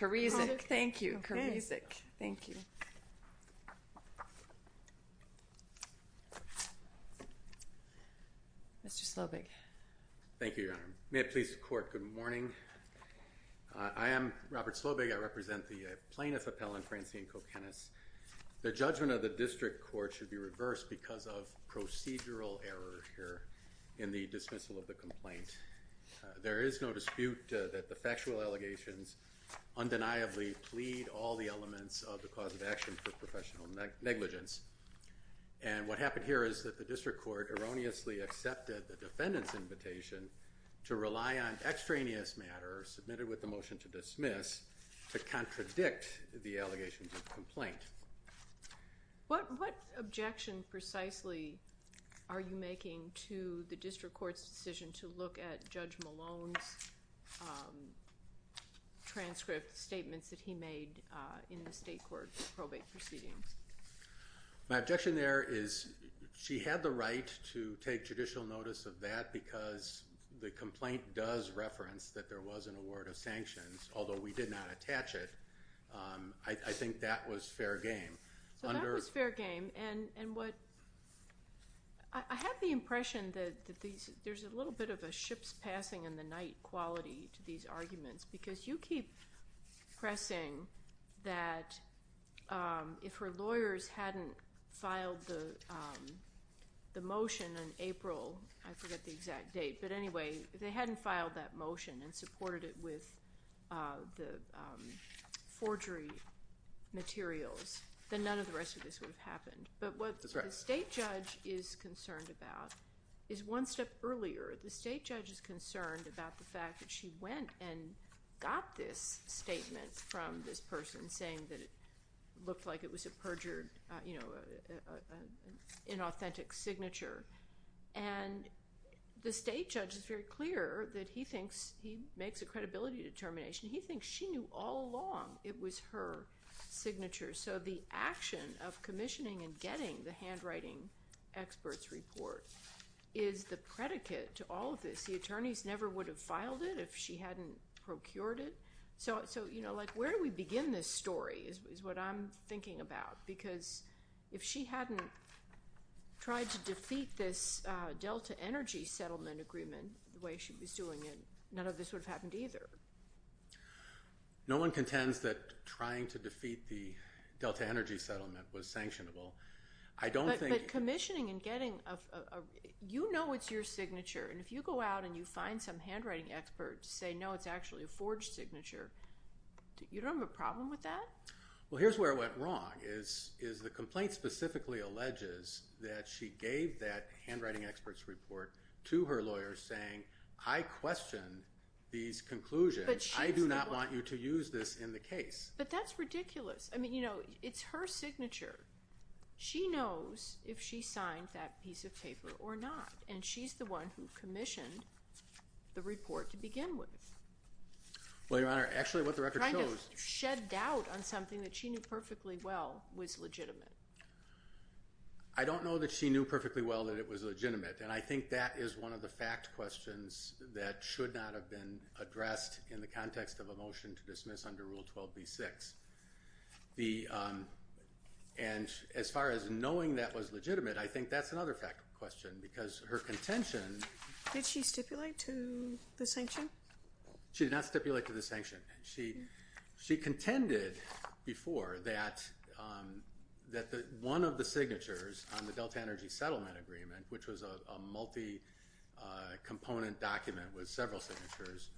Kurywczak, thank you, Kurywczak, thank you, Mr. Slobig. Thank you, Your Honor. May it please the court, good morning. I am Robert Slobig. I represent the plaintiff appellant, Francine Kokenis. The judgment of the district court should be reversed because of procedural error here in the dismissal of the complaint. There is no dispute that the factual allegations undeniably plead all the elements of the cause of action for professional negligence. And what happened here is that the district court erroneously accepted the defendant's invitation to rely on extraneous matters submitted with the motion to dismiss to contradict the allegations of complaint. What objection precisely are you making to the district court's decision to look at Judge Malone's transcript statements that he made in the state court probate proceedings? My objection there is she had the right to take judicial notice of that because the complaint does reference that there was an award of sanctions, although we did not attach it. I think that was fair game. So that was fair game. And what I have the impression that there's a little bit of a ship's passing in the night quality to these arguments because you keep pressing that if her lawyers hadn't filed the motion in April, I forget the exact date, but anyway, they hadn't filed that motion and supported it with the forgery materials, then none of the rest of this would have happened. But what the state judge is concerned about is one step earlier. The state judge is concerned about the fact that she went and got this statement from this person saying that it looked like it was a perjured, you know, an inauthentic signature. And the state judge is very clear that he thinks he makes a credibility determination. He thinks she knew all along it was her signature. So the action of commissioning and getting the handwriting experts report is the predicate to all of this. The attorneys never would have filed it if she hadn't procured it. So, you know, like where do we begin this story is what I'm thinking about. Because if she hadn't tried to defeat this Delta Energy Settlement Agreement the way she was doing it, none of this would have happened either. No one contends that trying to defeat the Delta Energy Settlement was sanctionable. I don't think... But commissioning and getting a... you know it's your signature and if you go out and you find some handwriting experts say, no, it's actually a forged signature, you don't have a problem with that? Well, here's where it went wrong is the complaint specifically alleges that she gave that handwriting experts report to her lawyers saying, I question these conclusions. I do not want you to use this in the case. But that's ridiculous. I mean, you know, it's her signature. She knows if she signed that piece of paper or not. And she's the one who commissioned the report to begin with. Well, Your Honor, actually what the record shows... Trying to shed doubt on something that she knew perfectly well was legitimate. I don't know that she knew perfectly well that it was legitimate. And I think that is one of the fact questions that should not have been addressed in the context of a motion to dismiss under Rule 12b-6. And as far as knowing that was legitimate, I think that's another fact question because her contention... Did she stipulate to the sanction? She did not stipulate to the sanction. She contended before that one of the signatures on the Delta Energy Settlement Agreement, which was a multi-component document with several signatures,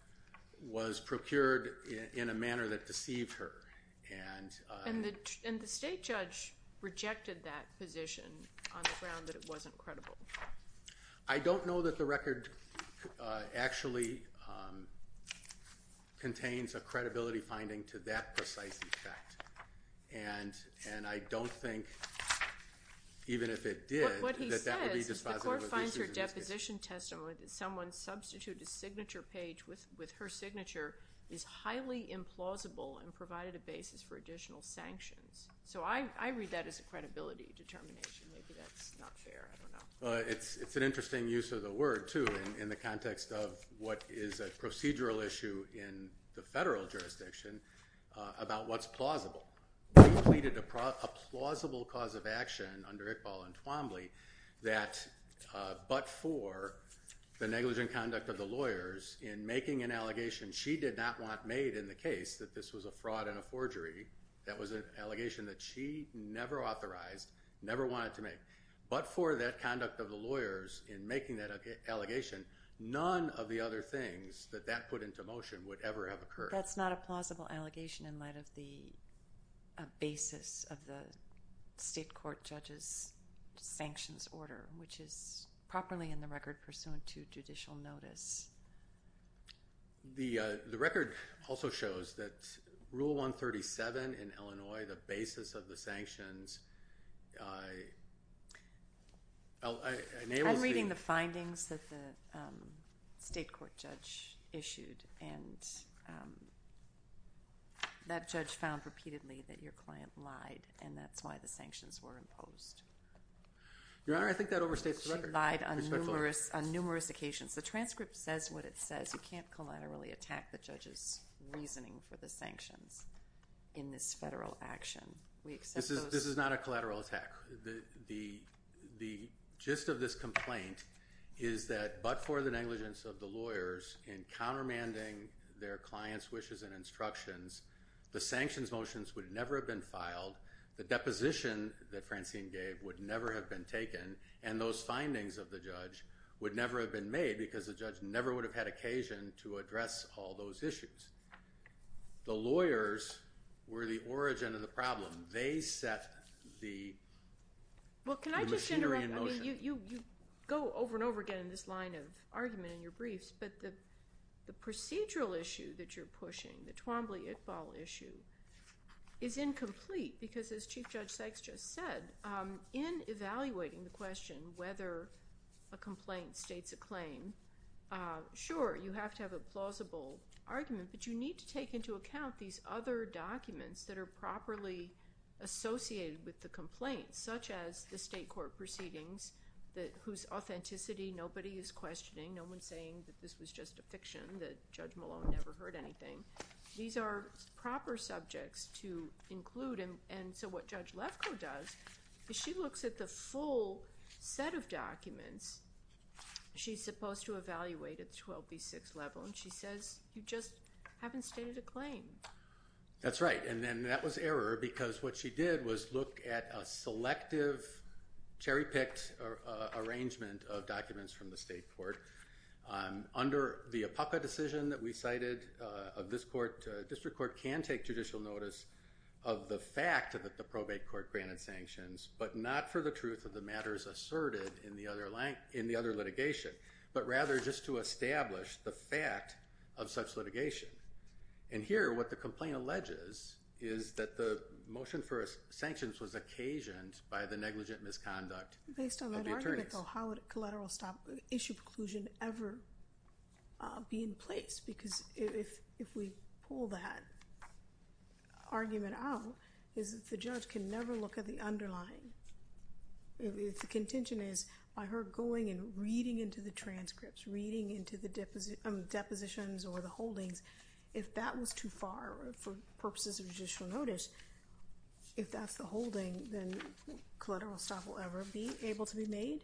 was procured in a manner that deceived her. And the state judge rejected that position on the ground that it wasn't credible. I don't know that the record actually contains a credibility finding to that precise effect. And I don't think, even if it did, that that would be dispositive of issues in this case. What he says is the court finds her deposition testimony that someone substituted a signature page with her signature is highly implausible and provided a basis for additional sanctions. So I read that as a credibility determination. Maybe that's not fair. I don't know. It's an interesting use of the word, too, in the context of what is a procedural issue in the federal jurisdiction about what's plausible. They pleaded a plausible cause of action under Iqbal and Twombly that but for the negligent conduct of the lawyers in making an allegation she did not want made in the case that this was a fraud and a forgery, that was an allegation that she never authorized, never wanted to make. But for that conduct of the lawyers in making that allegation, none of the other things that that put into motion would ever have occurred. That's not a plausible allegation in light of the basis of the state court judge's sanctions order, which is properly in the record pursuant to judicial notice. The record also shows that Rule 137 in Illinois, the basis of the sanctions. I'm reading the findings that the state court judge issued, and that judge found repeatedly that your client lied, and that's why the sanctions were imposed. Your Honor, I think that overstates the record. She lied on numerous occasions. The transcript says what it says. You can't collaterally attack the judge's reasoning for the sanctions in this federal action. This is not a collateral attack. The gist of this complaint is that but for the negligence of the lawyers in countermanding their clients' wishes and instructions, the sanctions motions would never have been filed. The deposition that Francine gave would never have been taken, and those findings of the judge would never have been made because the judge never would have had occasion to address all those issues. The lawyers were the origin of the problem. They set the machinery in motion. You go over and over again in this line of argument in your briefs, but the procedural issue that you're pushing, the Twombly-Iqbal issue, is incomplete because as Chief Judge Sykes just said, in evaluating the question whether a complaint states a claim, sure, you have to have a plausible argument, but you need to take into account these other documents that are properly associated with the complaint, such as the state court proceedings whose authenticity nobody is questioning. No one's saying that this was just a fiction, that Judge Malone never heard anything. These are proper subjects to include, and so what Judge Lefkoe does is she looks at the full set of documents she's supposed to evaluate at the 12B6 level, and she says, you just haven't stated a claim. That's right, and then that was error because what she did was look at a selective, cherry-picked arrangement of documents from the state court. Under the APACA decision that we cited of this court, district court can take judicial notice of the fact that the probate court granted sanctions, but not for the truth of the matters asserted in the other litigation, but rather just to establish the fact of such litigation, and here what the complaint alleges is that the motion for sanctions was occasioned by the negligent misconduct of the attorneys. Based on that argument, though, how would a collateral stop issue preclusion ever be in place? Because if we pull that argument out, the judge can never look at the underlying. If the contention is by her going and reading into the transcripts, reading into the depositions or the holdings, if that was too far for purposes of judicial notice, if that's the holding, then collateral stop will ever be able to be made?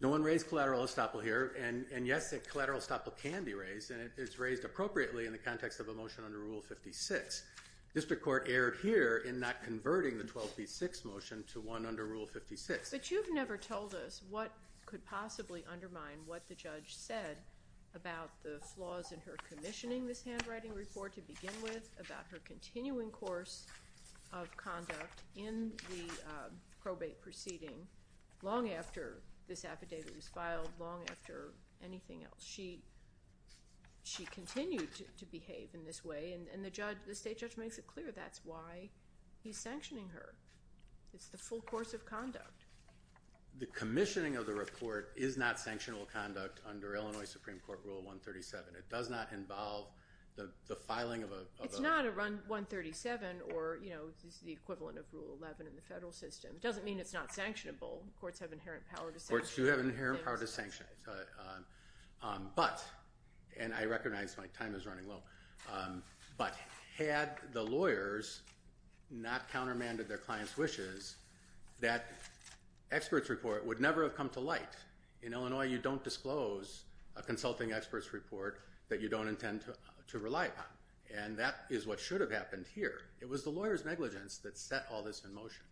No one raised collateral estoppel here, and yes, a collateral estoppel can be raised, and it's raised appropriately in the context of a motion under Rule 56. District court erred here in not converting the 12B6 motion to one under Rule 56. But you've never told us what could possibly undermine what the judge said about the flaws in her commissioning this handwriting report to begin with, about her continuing course of conduct in the probate proceeding long after this affidavit was filed, long after anything else. She continued to behave in this way, and the state judge makes it clear that's why he's sanctioning her. It's the full course of conduct. The commissioning of the report is not sanctionable conduct under Illinois Supreme Court Rule 137. It does not involve the filing of a- It's not a Run 137 or the equivalent of Rule 11 in the federal system. It doesn't mean it's not sanctionable. Courts have inherent power to sanction it. Courts do have inherent power to sanction it. But, and I recognize my time is running low, but had the lawyers not countermanded their clients' wishes, that expert's report would never have come to light. In Illinois, you don't disclose a consulting expert's report that you don't intend to rely upon. And that is what should have happened here. It was the lawyers' negligence that set all this in motion.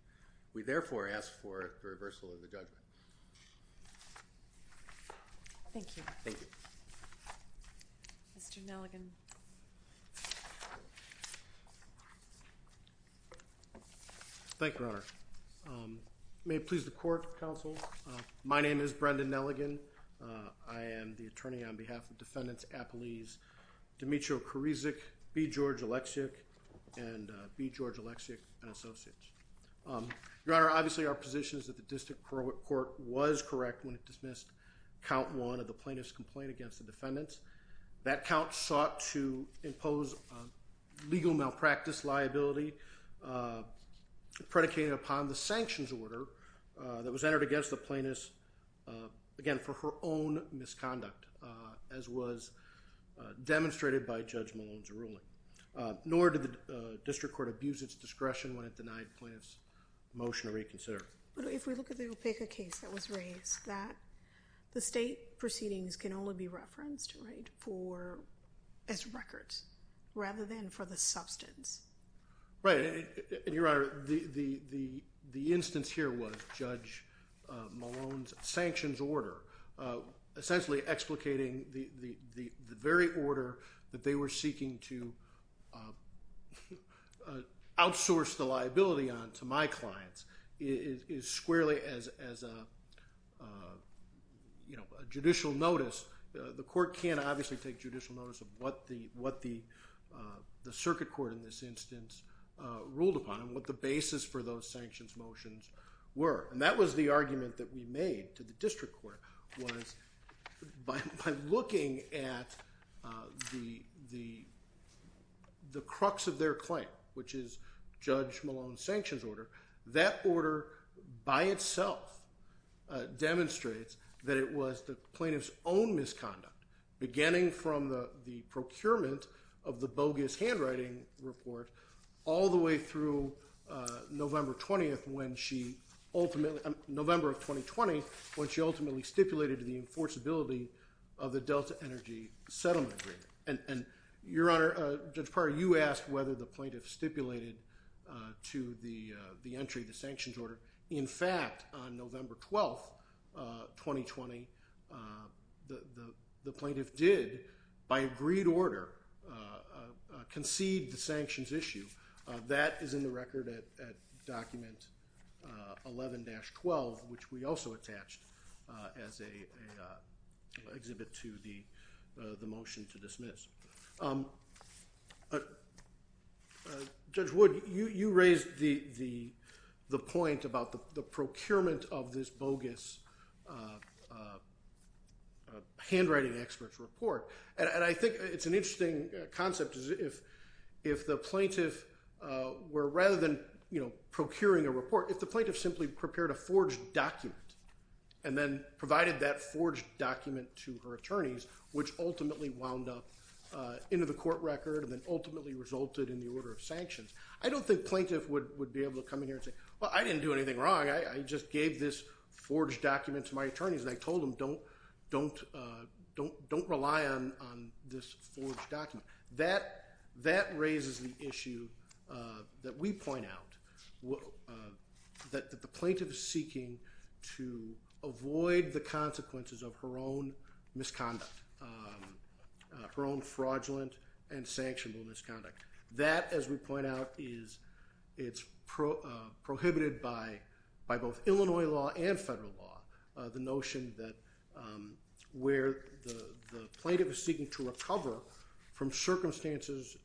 We therefore ask for the reversal of the judgment. Thank you. Thank you. Mr. Nelligan. Thank you, Your Honor. May it please the court, counsel. My name is Brendan Nelligan. I am the attorney on behalf of Defendants Appelese, Demetrio Koreczuk, B. George Oleksiak, and B. George Oleksiak and Associates. Your Honor, obviously our position is that the District Court was correct when it dismissed Count 1 of the plaintiff's complaint against the defendants. That count sought to impose legal malpractice liability predicated upon the sanctions order that was entered against the plaintiff's, again, for her own misconduct, as was demonstrated by Judge Malone's ruling. Nor did the District Court abuse its discretion when it denied the plaintiff's motion to reconsider. If we look at the Opeca case that was raised, the state proceedings can only be referenced as records rather than for the substance. Right. Your Honor, the instance here was Judge Malone's sanctions order, essentially explicating the very order that they were seeking to outsource the liability on to my clients. It is squarely as a judicial notice. The court can't obviously take judicial notice of what the circuit court in this instance ruled upon and what the basis for those sanctions motions were. That was the argument that we made to the District Court was by looking at the crux of their claim, which is Judge Malone's sanctions order, that order by itself demonstrates that it was the plaintiff's own misconduct, beginning from the procurement of the bogus handwriting report all the way through November of 2020, when she ultimately stipulated the enforceability of the Delta Energy Settlement Agreement. Your Honor, Judge Parra, you asked whether the plaintiff stipulated to the entry of the sanctions order. In fact, on November 12, 2020, the plaintiff did, by agreed order, concede the sanctions issue. That is in the record at Document 11-12, which we also attached as an exhibit to the motion to dismiss. Judge Wood, you raised the point about the procurement of this bogus handwriting expert's report, and I think it's an interesting concept if the plaintiff were, rather than procuring a report, if the plaintiff simply prepared a forged document and then provided that forged document to her attorneys, which ultimately wound up into the court record and then ultimately resulted in the order of sanctions, I don't think plaintiff would be able to come in here and say, well, I didn't do anything wrong. I just gave this forged document to my attorneys, and I told them, don't rely on this forged document. That raises the issue that we point out, that the plaintiff is seeking to avoid the consequences of her own misconduct, her own fraudulent and sanctionable misconduct. That, as we point out, is it's prohibited by both Illinois law and federal law, the notion that where the plaintiff is seeking to recover from circumstances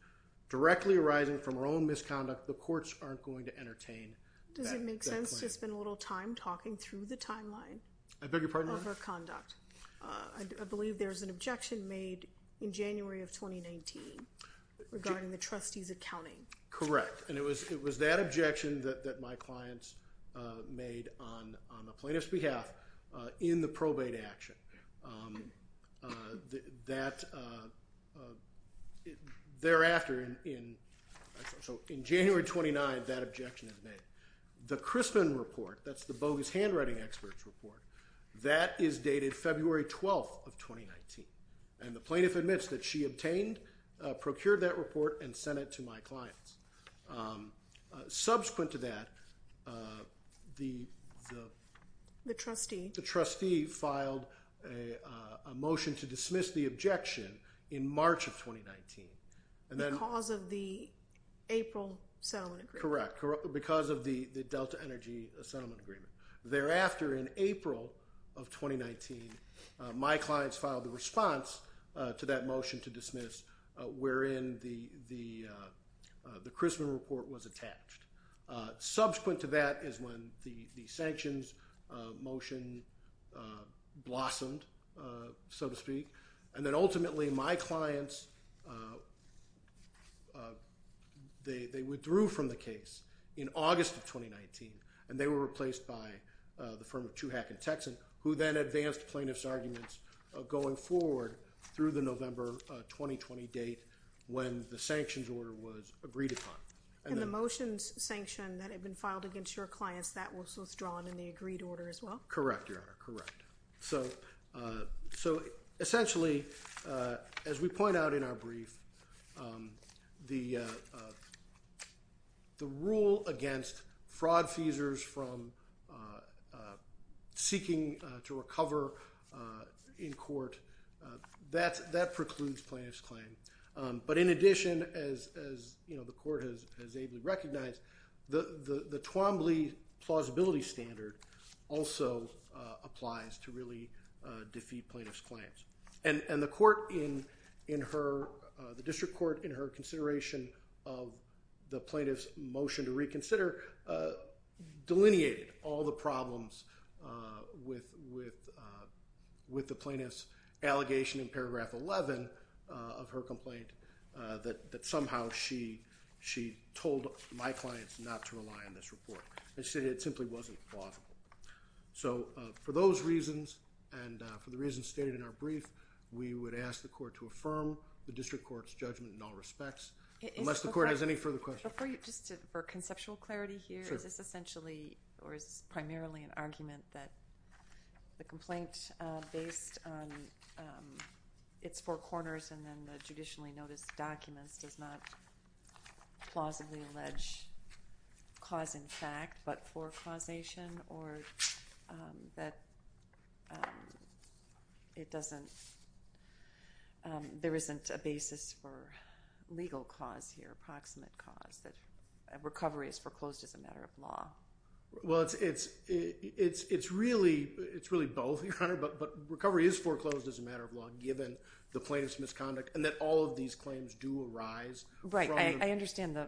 directly arising from her own misconduct, the courts aren't going to entertain that. Does it make sense to spend a little time talking through the timeline of her conduct? I beg your pardon? I believe there was an objection made in January of 2019 regarding the trustee's accounting. Correct. And it was that objection that my clients made on the plaintiff's behalf in the probate action. That thereafter, in January 29, that objection is made. The Crispin report, that's the bogus handwriting expert's report, that is dated February 12th of 2019. And the plaintiff admits that she obtained, procured that report, and sent it to my clients. Subsequent to that, the trustee filed a motion to dismiss the objection in March of 2019. Because of the April settlement agreement? Correct. Because of the Delta Energy settlement agreement. Thereafter, in April of 2019, my clients filed a response to that motion to dismiss, wherein the Crispin report was attached. Subsequent to that is when the sanctions motion blossomed, so to speak. And then ultimately, my clients, they withdrew from the case in August of 2019, and they were replaced by the firm of Tuhack & Texan, who then advanced plaintiff's arguments going forward through the November 2020 date when the sanctions order was agreed upon. And the motions sanction that had been filed against your clients, that was withdrawn in the agreed order as well? Correct, Your Honor, correct. So essentially, as we point out in our brief, the rule against fraud feasors from seeking to recover in court, that precludes plaintiff's claim. But in addition, as the court has ably recognized, the Twombly plausibility standard also applies to really defeat plaintiff's claims. And the district court, in her consideration of the plaintiff's motion to reconsider, delineated all the problems with the plaintiff's allegation in paragraph 11 of her complaint, that somehow she told my clients not to rely on this report. She said it simply wasn't plausible. So for those reasons, and for the reasons stated in our brief, we would ask the court to affirm the district court's judgment in all respects. Unless the court has any further questions. For conceptual clarity here, is this essentially or is this primarily an argument that the complaint, based on its four corners and then the judicially noticed documents, does not plausibly allege cause in fact, but forecausation, or that there isn't a basis for legal cause here, approximate cause, that recovery is foreclosed as a matter of law? Well, it's really both, Your Honor, but recovery is foreclosed as a matter of law, given the plaintiff's misconduct, and that all of these claims do arise. Right, I understand the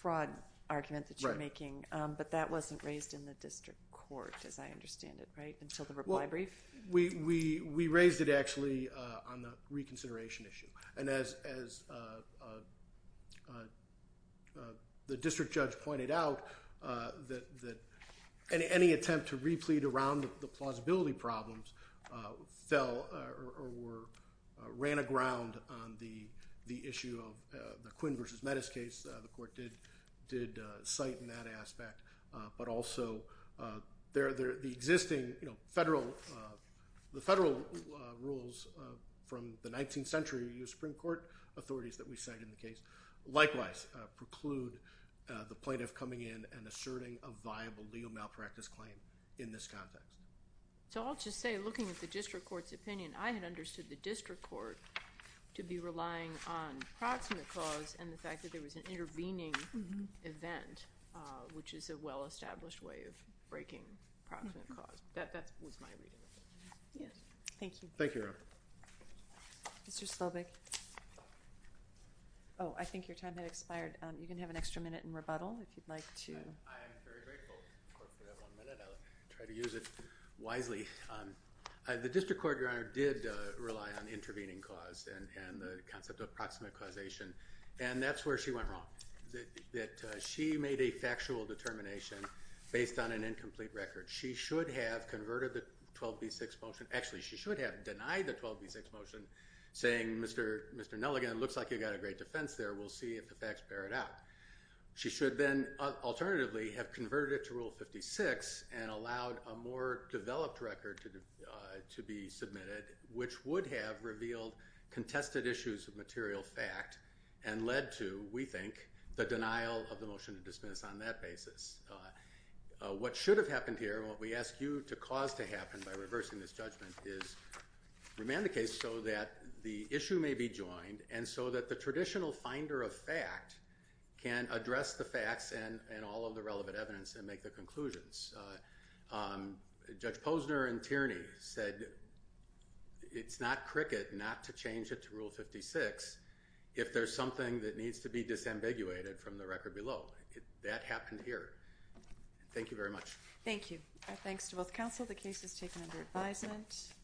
fraud argument that you're making, but that wasn't raised in the district court, as I understand it, right? Until the reply brief? We raised it, actually, on the reconsideration issue. And as the district judge pointed out, that any attempt to replete around the plausibility problems fell or ran aground on the issue of the Quinn v. Mettis case. The court did cite in that aspect, but also the existing federal rules from the 19th century Supreme Court authorities that we cite in the case, likewise preclude the plaintiff coming in and asserting a viable legal malpractice claim in this context. So I'll just say, looking at the district court's opinion, I had understood the district court to be relying on approximate cause and the fact that there was an intervening event, which is a well-established way of breaking approximate cause. That was my reading of it. Thank you. Thank you, Your Honor. Mr. Slovic? Oh, I think your time had expired. You can have an extra minute in rebuttal, if you'd like to. I am very grateful for that one minute. I'll try to use it wisely. The district court, Your Honor, did rely on intervening cause and the concept of approximate causation. And that's where she went wrong, that she made a factual determination based on an incomplete record. She should have converted the 12B6 motion. Actually, she should have denied the 12B6 motion, saying, Mr. Nelligan, it looks like you've got a great defense there. We'll see if the facts bear it out. She should then alternatively have converted it to Rule 56 and allowed a more developed record to be submitted, which would have revealed contested issues of material fact and led to, we think, the denial of the motion to dismiss on that basis. What should have happened here, and what we ask you to cause to happen by reversing this judgment, is remand the case so that the issue may be joined and so that the traditional finder of fact can address the facts and all of the relevant evidence and make the conclusions. Judge Posner and Tierney said it's not cricket not to change it to Rule 56 if there's something that needs to be disambiguated from the record below. That happened here. Thank you very much. Thank you. Our thanks to both counsel. The case is taken under advisement.